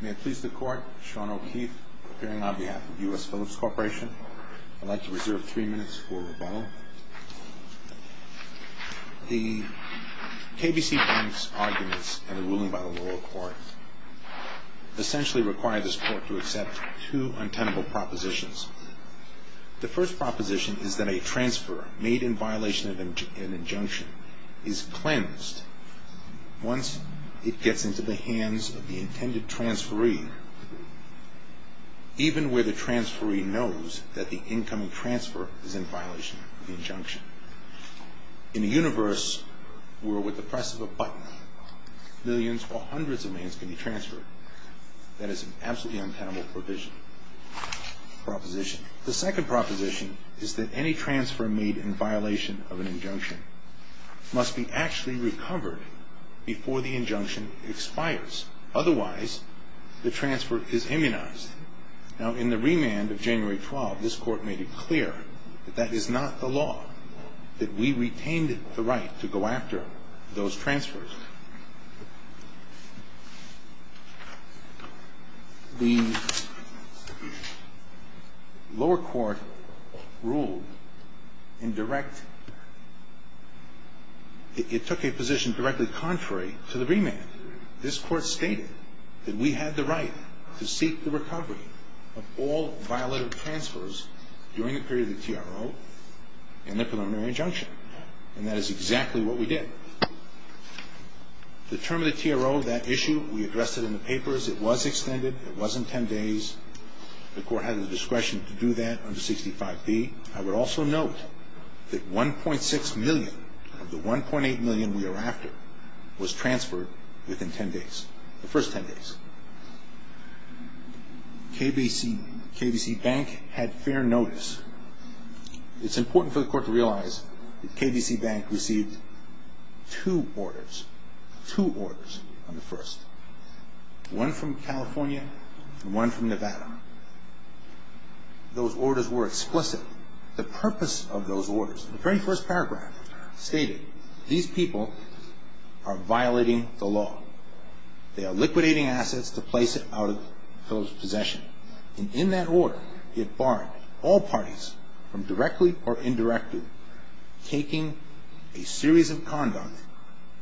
May it please the Court, Sean O'Keefe, appearing on behalf of U.S. Philips Corporation. I'd like to reserve three minutes for rebuttal. The KBC Bank's arguments and the ruling by the lower court essentially require this Court to accept two untenable propositions. The first proposition is that a transfer made in violation of an injunction is cleansed once it gets into the hands of the intended transferee, even where the transferee knows that the incoming transfer is in violation of the injunction. In a universe where, with the press of a button, millions or hundreds of millions can be transferred, that is an absolutely untenable provision, proposition. The second proposition is that any transfer made in violation of an injunction must be actually recovered before the injunction expires. Otherwise, the transfer is immunized. Now, in the remand of January 12, this Court made it clear that that is not the law, that we retained the right to go after those transfers. The lower court ruled in direct... it took a position directly contrary to the remand. This Court stated that we had the right to seek the recovery of all violative transfers during the period of the TRO and the preliminary injunction, and that is exactly what we did. The term of the TRO, that issue, we addressed it in the papers. It was extended. It was in 10 days. The Court had the discretion to do that under 65B. I would also note that 1.6 million of the 1.8 million we are after was transferred within 10 days, the first 10 days. KBC Bank had fair notice. It's important for the Court to realize that KBC Bank received two orders, two orders on the first, one from California and one from Nevada. Those orders were explicit. The purpose of those orders, the very first paragraph stated, these people are violating the law. They are liquidating assets to place it out of those possessions. In that order, it barred all parties from directly or indirectly taking a series of conduct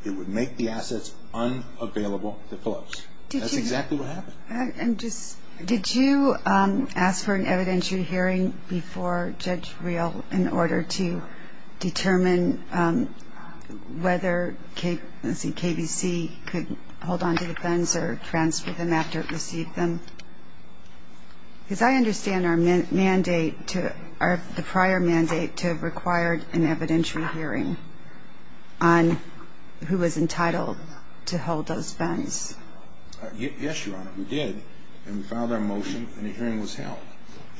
that would make the assets unavailable to folks. That's exactly what happened. Did you ask for an evidentiary hearing before Judge Reel in order to determine whether KBC could hold onto the funds or transfer them after it received them? Because I understand the prior mandate to have required an evidentiary hearing on who was entitled to hold those funds. Yes, Your Honor, we did. And we filed our motion and a hearing was held.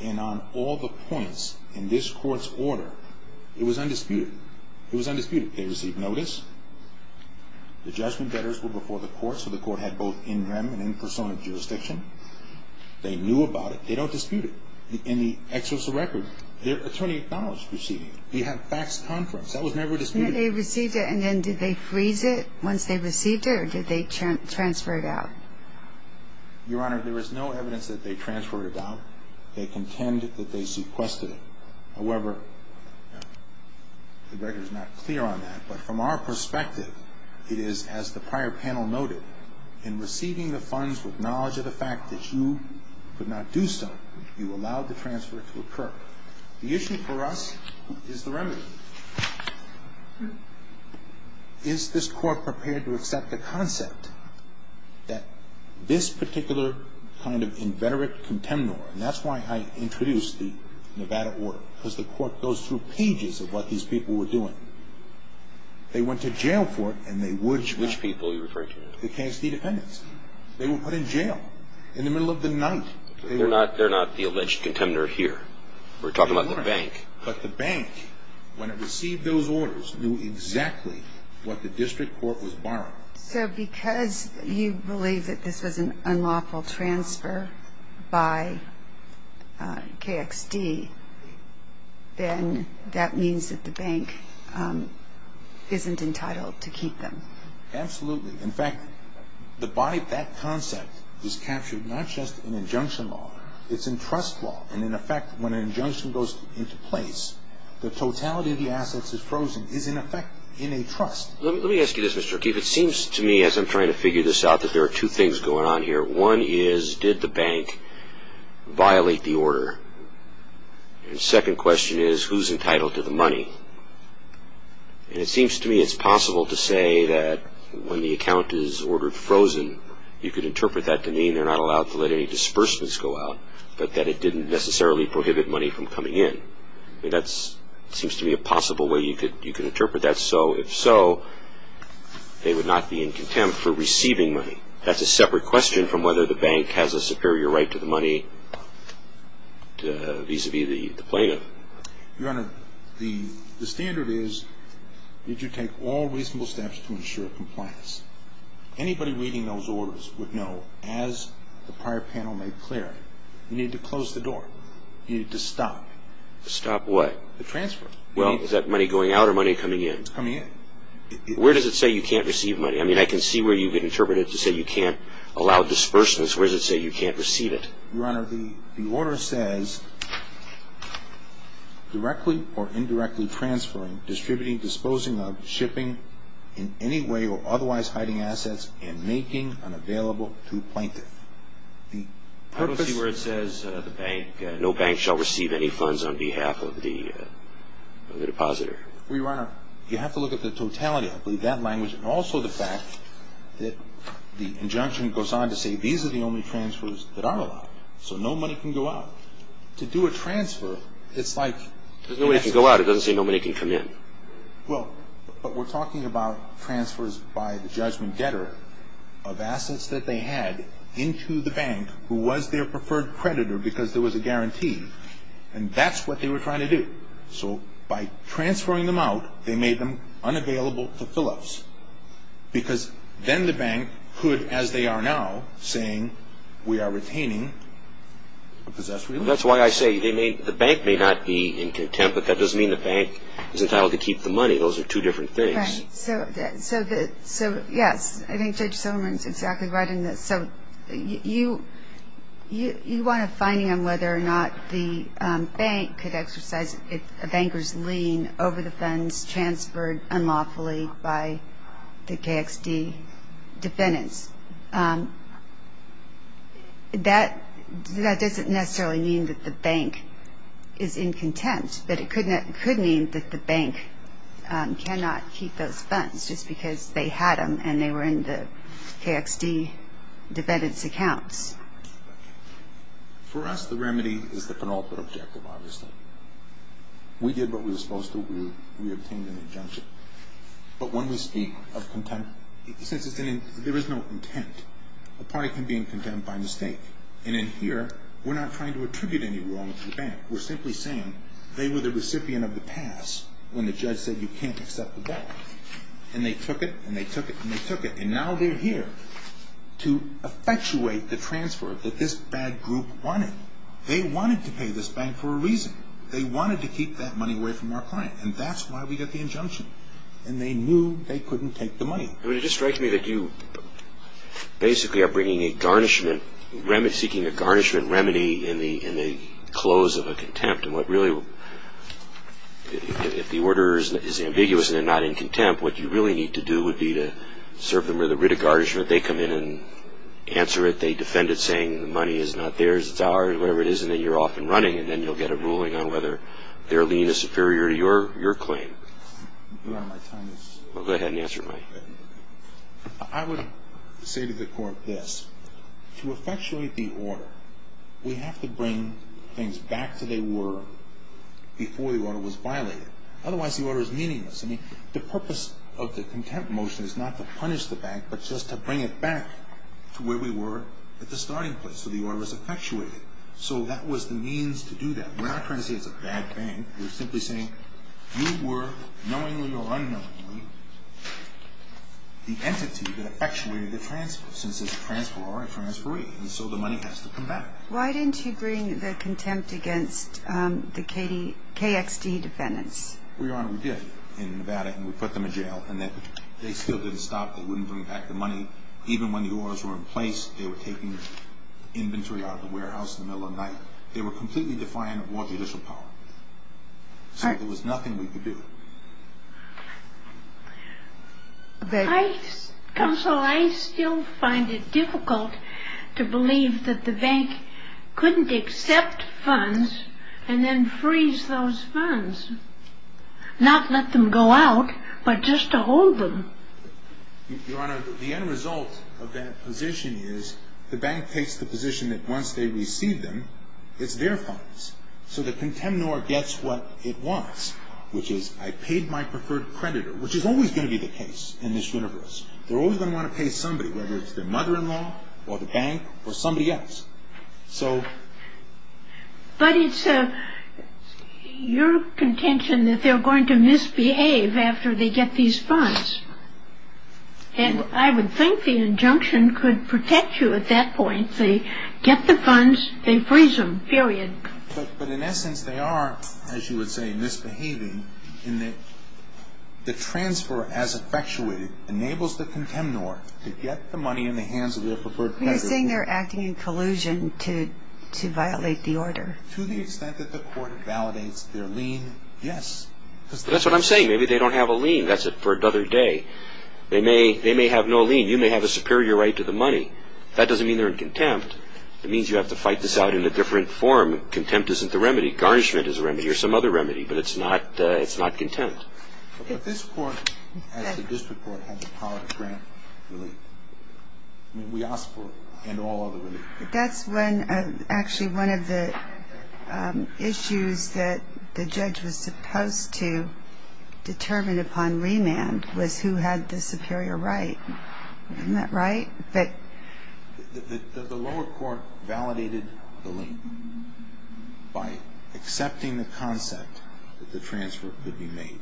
And on all the points in this Court's order, it was undisputed. It was undisputed. They received notice. The judgment letters were before the Court, so the Court had both in rem and in persona of jurisdiction. They knew about it. They don't dispute it. In the exercise of record, their attorney acknowledged receiving it. They had faxed conference. That was never disputed. They received it, and then did they freeze it once they received it or did they transfer it out? Your Honor, there is no evidence that they transferred it out. They contend that they sequestered it. However, the record is not clear on that. But from our perspective, it is, as the prior panel noted, in receiving the funds with knowledge of the fact that you could not do so, you allowed the transfer to occur. The issue for us is the remedy. Is this Court prepared to accept the concept that this particular kind of inveterate contemnor, and that's why I introduced the Nevada order, because the Court goes through pages of what these people were doing. They went to jail for it, and they would. Which people are you referring to? The KXD defendants. They were put in jail in the middle of the night. They're not the alleged contemnor here. We're talking about the bank. But the bank, when it received those orders, knew exactly what the district court was borrowing. So because you believe that this was an unlawful transfer by KXD, then that means that the bank isn't entitled to keep them. Absolutely. In fact, that concept is captured not just in injunction law. It's in trust law. And, in effect, when an injunction goes into place, the totality of the assets is frozen, is, in effect, in a trust. Let me ask you this, Mr. O'Keefe. It seems to me, as I'm trying to figure this out, that there are two things going on here. One is, did the bank violate the order? And the second question is, who's entitled to the money? And it seems to me it's possible to say that when the account is ordered frozen, you could interpret that to mean they're not allowed to let any disbursements go out, but that it didn't necessarily prohibit money from coming in. That seems to me a possible way you could interpret that. And so, if so, they would not be in contempt for receiving money. That's a separate question from whether the bank has a superior right to the money vis-à-vis the plaintiff. Your Honor, the standard is that you take all reasonable steps to ensure compliance. Anybody reading those orders would know, as the prior panel made clear, you need to close the door. You need to stop. Stop what? The transfer. Well, is that money going out or money coming in? It's coming in. Where does it say you can't receive money? I mean, I can see where you could interpret it to say you can't allow disbursements. Where does it say you can't receive it? Your Honor, the order says, directly or indirectly transferring, distributing, disposing of, shipping in any way or otherwise hiding assets, and making unavailable to plaintiff. I don't see where it says the bank, shall receive any funds on behalf of the depositor. Your Honor, you have to look at the totality of that language and also the fact that the injunction goes on to say these are the only transfers that are allowed. So no money can go out. To do a transfer, it's like There's no way it can go out. It doesn't say no money can come in. Well, but we're talking about transfers by the judgment getter of assets that they had into the bank who was their preferred creditor because there was a guarantee. And that's what they were trying to do. So by transferring them out, they made them unavailable to fill-ups. Because then the bank could, as they are now, saying, we are retaining a possessory loan. That's why I say the bank may not be in contempt, but that doesn't mean the bank is entitled to keep the money. Those are two different things. Right. So, yes, I think Judge Silverman is exactly right in this. So you want a finding on whether or not the bank could exercise a banker's lien over the funds transferred unlawfully by the KXD defendants. That doesn't necessarily mean that the bank is in contempt, but it could mean that the bank cannot keep those funds just because they had them and they were in the KXD defendants' accounts. For us, the remedy is the penultimate objective, obviously. We did what we were supposed to. We obtained an injunction. But when we speak of contempt, since there is no intent, a party can be in contempt by mistake. And in here, we're not trying to attribute any wrong to the bank. We're simply saying they were the recipient of the pass when the judge said you can't accept the bank. And they took it and they took it and they took it. And now they're here to effectuate the transfer that this bad group wanted. They wanted to pay this bank for a reason. They wanted to keep that money away from our client. And that's why we got the injunction. And they knew they couldn't take the money. It just strikes me that you basically are bringing a garnishment, seeking a garnishment remedy in the close of a contempt. And what really, if the order is ambiguous and they're not in contempt, what you really need to do would be to serve them with a writ of garnishment. They come in and answer it. They defend it saying the money is not theirs, it's ours, whatever it is. And then you're off and running. And then you'll get a ruling on whether their lien is superior to your claim. Go ahead and answer, Mike. I would say to the court this. To effectuate the order, we have to bring things back to they were before the order was violated. Otherwise, the order is meaningless. I mean, the purpose of the contempt motion is not to punish the bank, but just to bring it back to where we were at the starting place. So the order is effectuated. So that was the means to do that. We're not trying to say it's a bad bank. We're simply saying you were, knowingly or unknowingly, the entity that effectuated the transfer since it's a transfer or a transferee. And so the money has to come back. Why didn't you bring the contempt against the KXT defendants? Well, Your Honor, we did in Nevada, and we put them in jail. And they still didn't stop. They wouldn't bring back the money. Even when the orders were in place, they were taking inventory out of the warehouse in the middle of the night. They were completely defiant of all judicial power. So there was nothing we could do. Counsel, I still find it difficult to believe that the bank couldn't accept funds and then freeze those funds, not let them go out, but just to hold them. Your Honor, the end result of that position is the bank takes the position that once they receive them, it's their funds. So the contemnor gets what it wants, which is I paid my preferred creditor, which is always going to be the case in this universe. They're always going to want to pay somebody, whether it's their mother-in-law or the bank or somebody else. But it's your contention that they're going to misbehave after they get these funds. And I would think the injunction could protect you at that point. They get the funds, they freeze them, period. But in essence, they are, as you would say, misbehaving in that the transfer, as effectuated, enables the contemnor to get the money in the hands of their preferred creditor. You're saying they're acting in collusion to violate the order. To the extent that the court validates their lien, yes. That's what I'm saying. Maybe they don't have a lien. That's it for another day. They may have no lien. You may have a superior right to the money. That doesn't mean they're in contempt. It means you have to fight this out in a different form. Contempt isn't the remedy. Garnishment is a remedy or some other remedy. But it's not contempt. But this court, as the district court, has the power to grant relief. I mean, we ask for and all other relief. That's when actually one of the issues that the judge was supposed to determine upon remand was who had the superior right. Isn't that right? The lower court validated the lien by accepting the concept that the transfer could be made.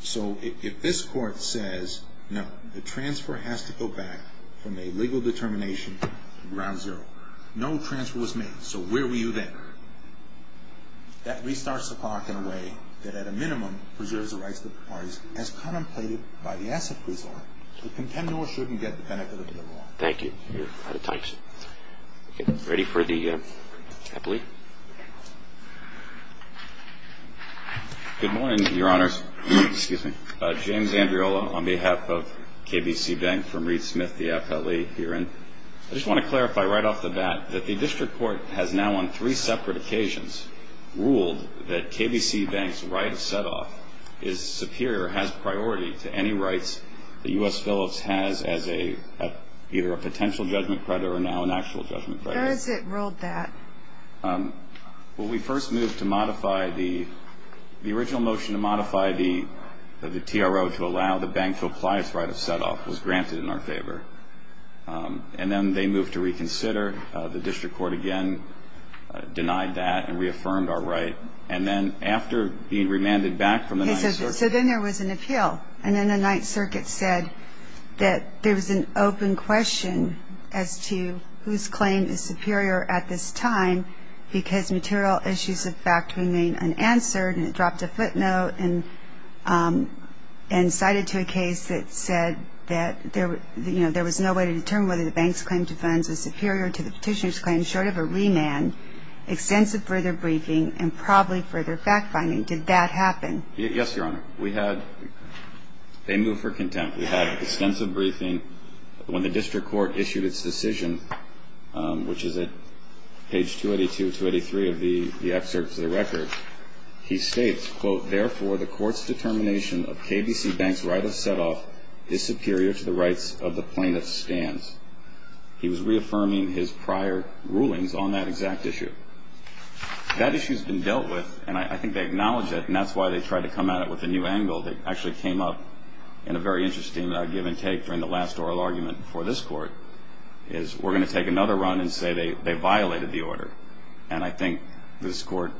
So if this court says, no, the transfer has to go back from a legal determination to ground zero. No transfer was made. So where were you then? That restarts the clock in a way that at a minimum preserves the rights of the parties, as contemplated by the asset presider. The contemptible shouldn't get the benefit of the law. Thank you. You're out of time, sir. Ready for the appellee? Good morning, Your Honors. Excuse me. James Andriola on behalf of KBC Bank from Reed Smith, the appellee herein. I just want to clarify right off the bat that the district court has now on three separate occasions ruled that KBC Bank's right of set-off is superior, has priority to any rights that U.S. Phillips has as either a potential judgment credit or now an actual judgment credit. Where has it ruled that? Well, we first moved to modify the original motion to modify the TRO to allow the bank to apply its right of set-off. It was granted in our favor. And then they moved to reconsider. The district court again denied that and reaffirmed our right. And then after being remanded back from the Ninth Circuit. So then there was an appeal. And then the Ninth Circuit said that there was an open question as to whose claim is superior at this time because material issues of fact remain unanswered. And it dropped a footnote and cited to a case that said that, you know, there was no way to determine whether the bank's claim to funds is superior to the petitioner's claim short of a remand. Extensive further briefing and probably further fact-finding. Did that happen? Yes, Your Honor. We had they moved for contempt. We had extensive briefing. When the district court issued its decision, which is at page 282, 283 of the excerpts of the record, he states, quote, Therefore, the court's determination of KBC Bank's right of set-off is superior to the rights of the plaintiff's stands. He was reaffirming his prior rulings on that exact issue. That issue has been dealt with, and I think they acknowledged it, and that's why they tried to come at it with a new angle. They actually came up in a very interesting give-and-take during the last oral argument before this court, is we're going to take another run and say they violated the order. And I think this court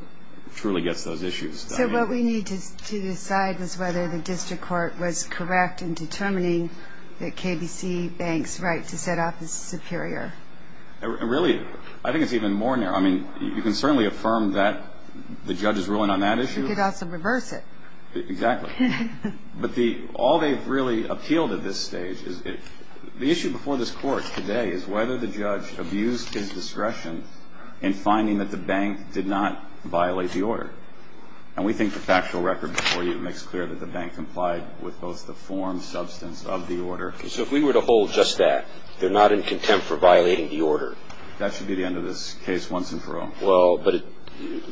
truly gets those issues. So what we need to decide is whether the district court was correct in determining that KBC Bank's right to set-off is superior. Really, I think it's even more narrow. I mean, you can certainly affirm that the judge's ruling on that issue. You could also reverse it. Exactly. But all they've really appealed at this stage is the issue before this court today is whether the judge abused his discretion in finding that the bank did not violate the order. And we think the factual record before you makes clear that the bank complied with both the form, substance of the order. So if we were to hold just that, they're not in contempt for violating the order? That should be the end of this case once and for all. Well, but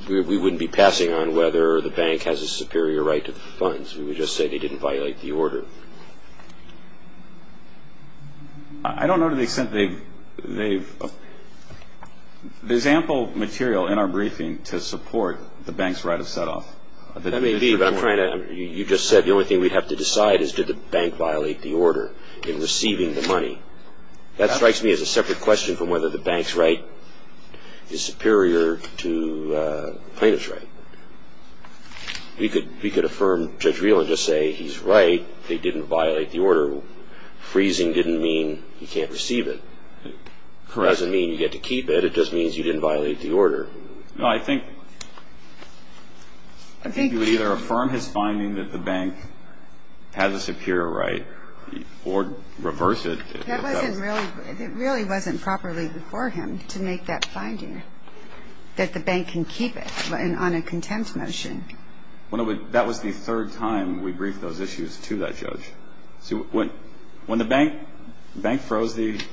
we wouldn't be passing on whether the bank has a superior right to the funds. We would just say they didn't violate the order. I don't know to the extent they've – there's ample material in our briefing to support the bank's right of set-off. That may be, but I'm trying to – you just said the only thing we have to decide is did the bank violate the order in receiving the money. That strikes me as a separate question from whether the bank's right is superior to the plaintiff's right. We could affirm Judge Real and just say he's right, they didn't violate the order. Freezing didn't mean he can't receive it. Correct. It doesn't mean you get to keep it. It just means you didn't violate the order. No, I think you would either affirm his finding that the bank has a superior right or reverse it. That wasn't really – it really wasn't properly before him to make that finding, that the bank can keep it on a contempt motion. That was the third time we briefed those issues to that judge. See, when the bank – the bank froze the –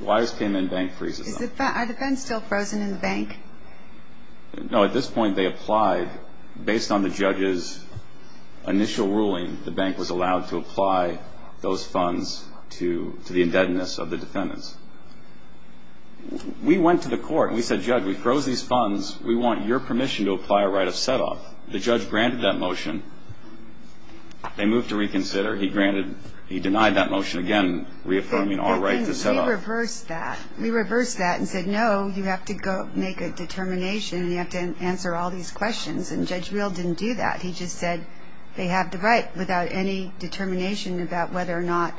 the wires came in, bank freezes them. Are the funds still frozen in the bank? No, at this point they applied. Based on the judge's initial ruling, the bank was allowed to apply those funds to the indebtedness of the defendants. We went to the court and we said, Judge, we froze these funds. We want your permission to apply a right of set-off. The judge granted that motion. They moved to reconsider. He granted – he denied that motion again, reaffirming our right to set-off. We reversed that. We reversed that and said, no, you have to go make a determination and you have to answer all these questions. And Judge Real didn't do that. He just said they have the right without any determination about whether or not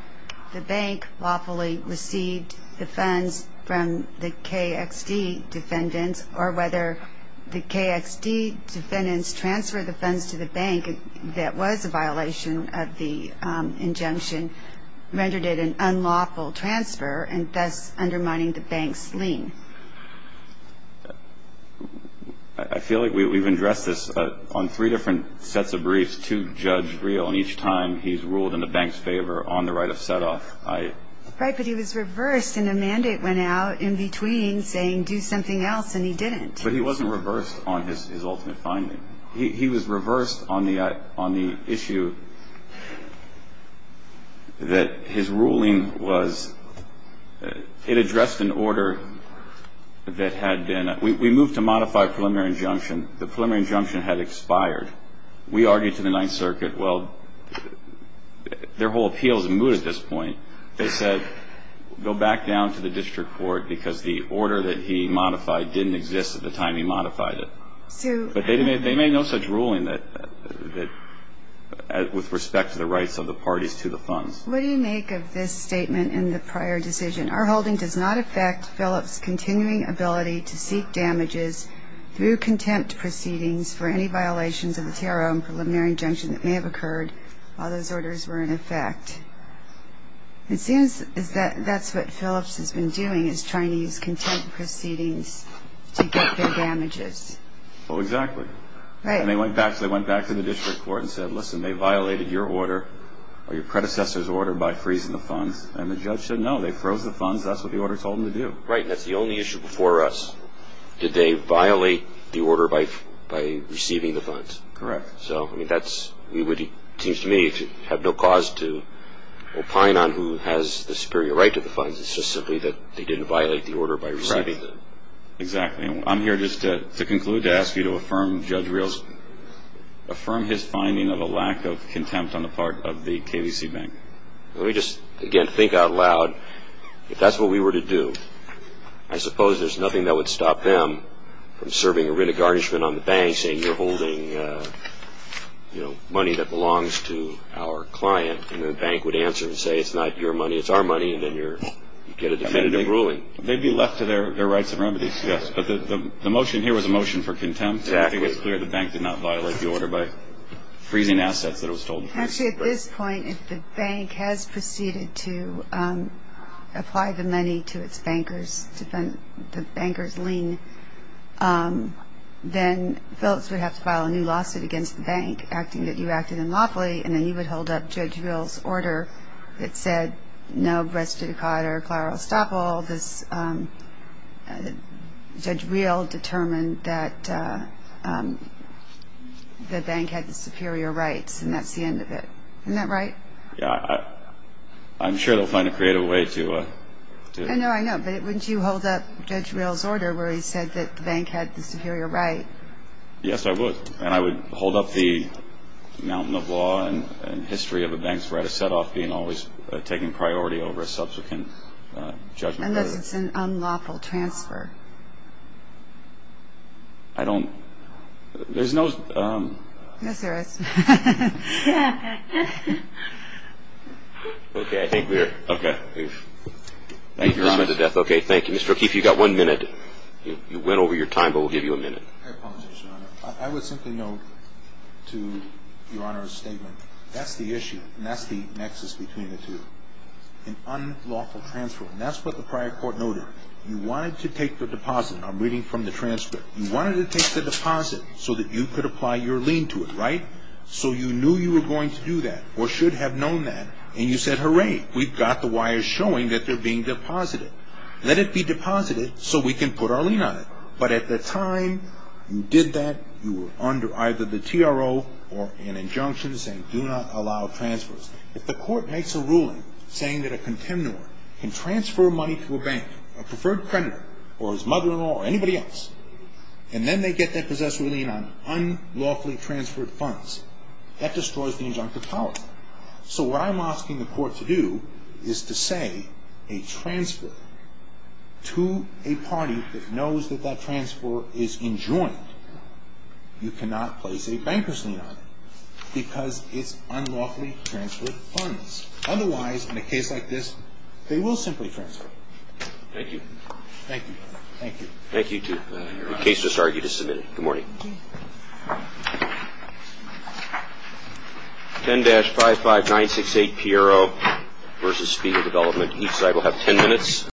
the bank lawfully received the funds from the KXD defendants or whether the KXD defendants transferred the funds to the bank that was a violation of the injunction, rendered it an unlawful transfer, and thus undermining the bank's lien. I feel like we've addressed this on three different sets of briefs to Judge Real, and each time he's ruled in the bank's favor on the right of set-off. Right, but he was reversed and a mandate went out in between saying do something else and he didn't. But he wasn't reversed on his ultimate finding. He was reversed on the issue that his ruling was – it addressed an order that had been – we moved to modify a preliminary injunction. The preliminary injunction had expired. We argued to the Ninth Circuit, well, their whole appeal is moot at this point. They said go back down to the district court because the order that he modified didn't exist at the time he modified it. But they made no such ruling that – with respect to the rights of the parties to the funds. What do you make of this statement in the prior decision? Our holding does not affect Phillips' continuing ability to seek damages through contempt proceedings for any violations of the tariff and preliminary injunction that may have occurred while those orders were in effect. It seems that that's what Phillips has been doing is trying to use contempt proceedings to get their damages. Well, exactly. Right. And they went back to the district court and said, listen, they violated your order or your predecessor's order by freezing the funds. And the judge said, no, they froze the funds. That's what the order told them to do. Right, and that's the only issue before us. Did they violate the order by receiving the funds? Correct. So, I mean, that seems to me to have no cause to opine on who has the superior right to the funds. It's just simply that they didn't violate the order by receiving them. Correct. Exactly. I'm here just to conclude to ask you to affirm Judge Rios – affirm his finding of a lack of contempt on the part of the KDC Bank. Let me just, again, think out loud. If that's what we were to do, I suppose there's nothing that would stop them from serving a writ of garnishment on the bank by saying you're holding money that belongs to our client, and the bank would answer and say it's not your money, it's our money, and then you get a definitive ruling. They'd be left to their rights and remedies, yes. But the motion here was a motion for contempt. Exactly. It was clear the bank did not violate the order by freezing assets that it was told to freeze. Actually, at this point, if the bank has proceeded to apply the money to its bankers to fund the bankers' lien, then Phillips would have to file a new lawsuit against the bank, acting that you acted unlawfully, and then you would hold up Judge Rios' order that said no res judicata or claro estoppel. Judge Rios determined that the bank had the superior rights, and that's the end of it. Isn't that right? Yeah. I'm sure they'll find a creative way to do it. I know. I know. But wouldn't you hold up Judge Rios' order where he said that the bank had the superior right? Yes, I would. And I would hold up the mountain of law and history of a bank's right of set-off being always taken priority over a subsequent judgment? Unless it's an unlawful transfer. I don't – there's no – Yes, there is. Okay, I think we're – okay. Thank you, Your Honor. Okay, thank you. Mr. O'Keefe, you've got one minute. You went over your time, but we'll give you a minute. I would simply note to Your Honor's statement, that's the issue, and that's the nexus between the two. An unlawful transfer, and that's what the prior court noted. You wanted to take the deposit. I'm reading from the transcript. You wanted to take the deposit so that you could apply your lien to it, right? So you knew you were going to do that or should have known that, and you said, hooray, we've got the wires showing that they're being deposited. Let it be deposited so we can put our lien on it. But at the time you did that, you were under either the TRO or an injunction saying do not allow transfers. If the court makes a ruling saying that a contemnor can transfer money to a bank, a preferred creditor or his mother-in-law or anybody else, and then they get that possessory lien on unlawfully transferred funds, that destroys the injunctive policy. So what I'm asking the court to do is to say a transfer to a party that knows that that transfer is enjoined, you cannot place a bankers lien on it because it's unlawfully transferred funds. Otherwise, in a case like this, they will simply transfer. Thank you. Thank you. Thank you. Thank you, too. The case has started. You can submit it. Good morning. 10-55968, Piero v. Speed of Development. Each side will have 10 minutes.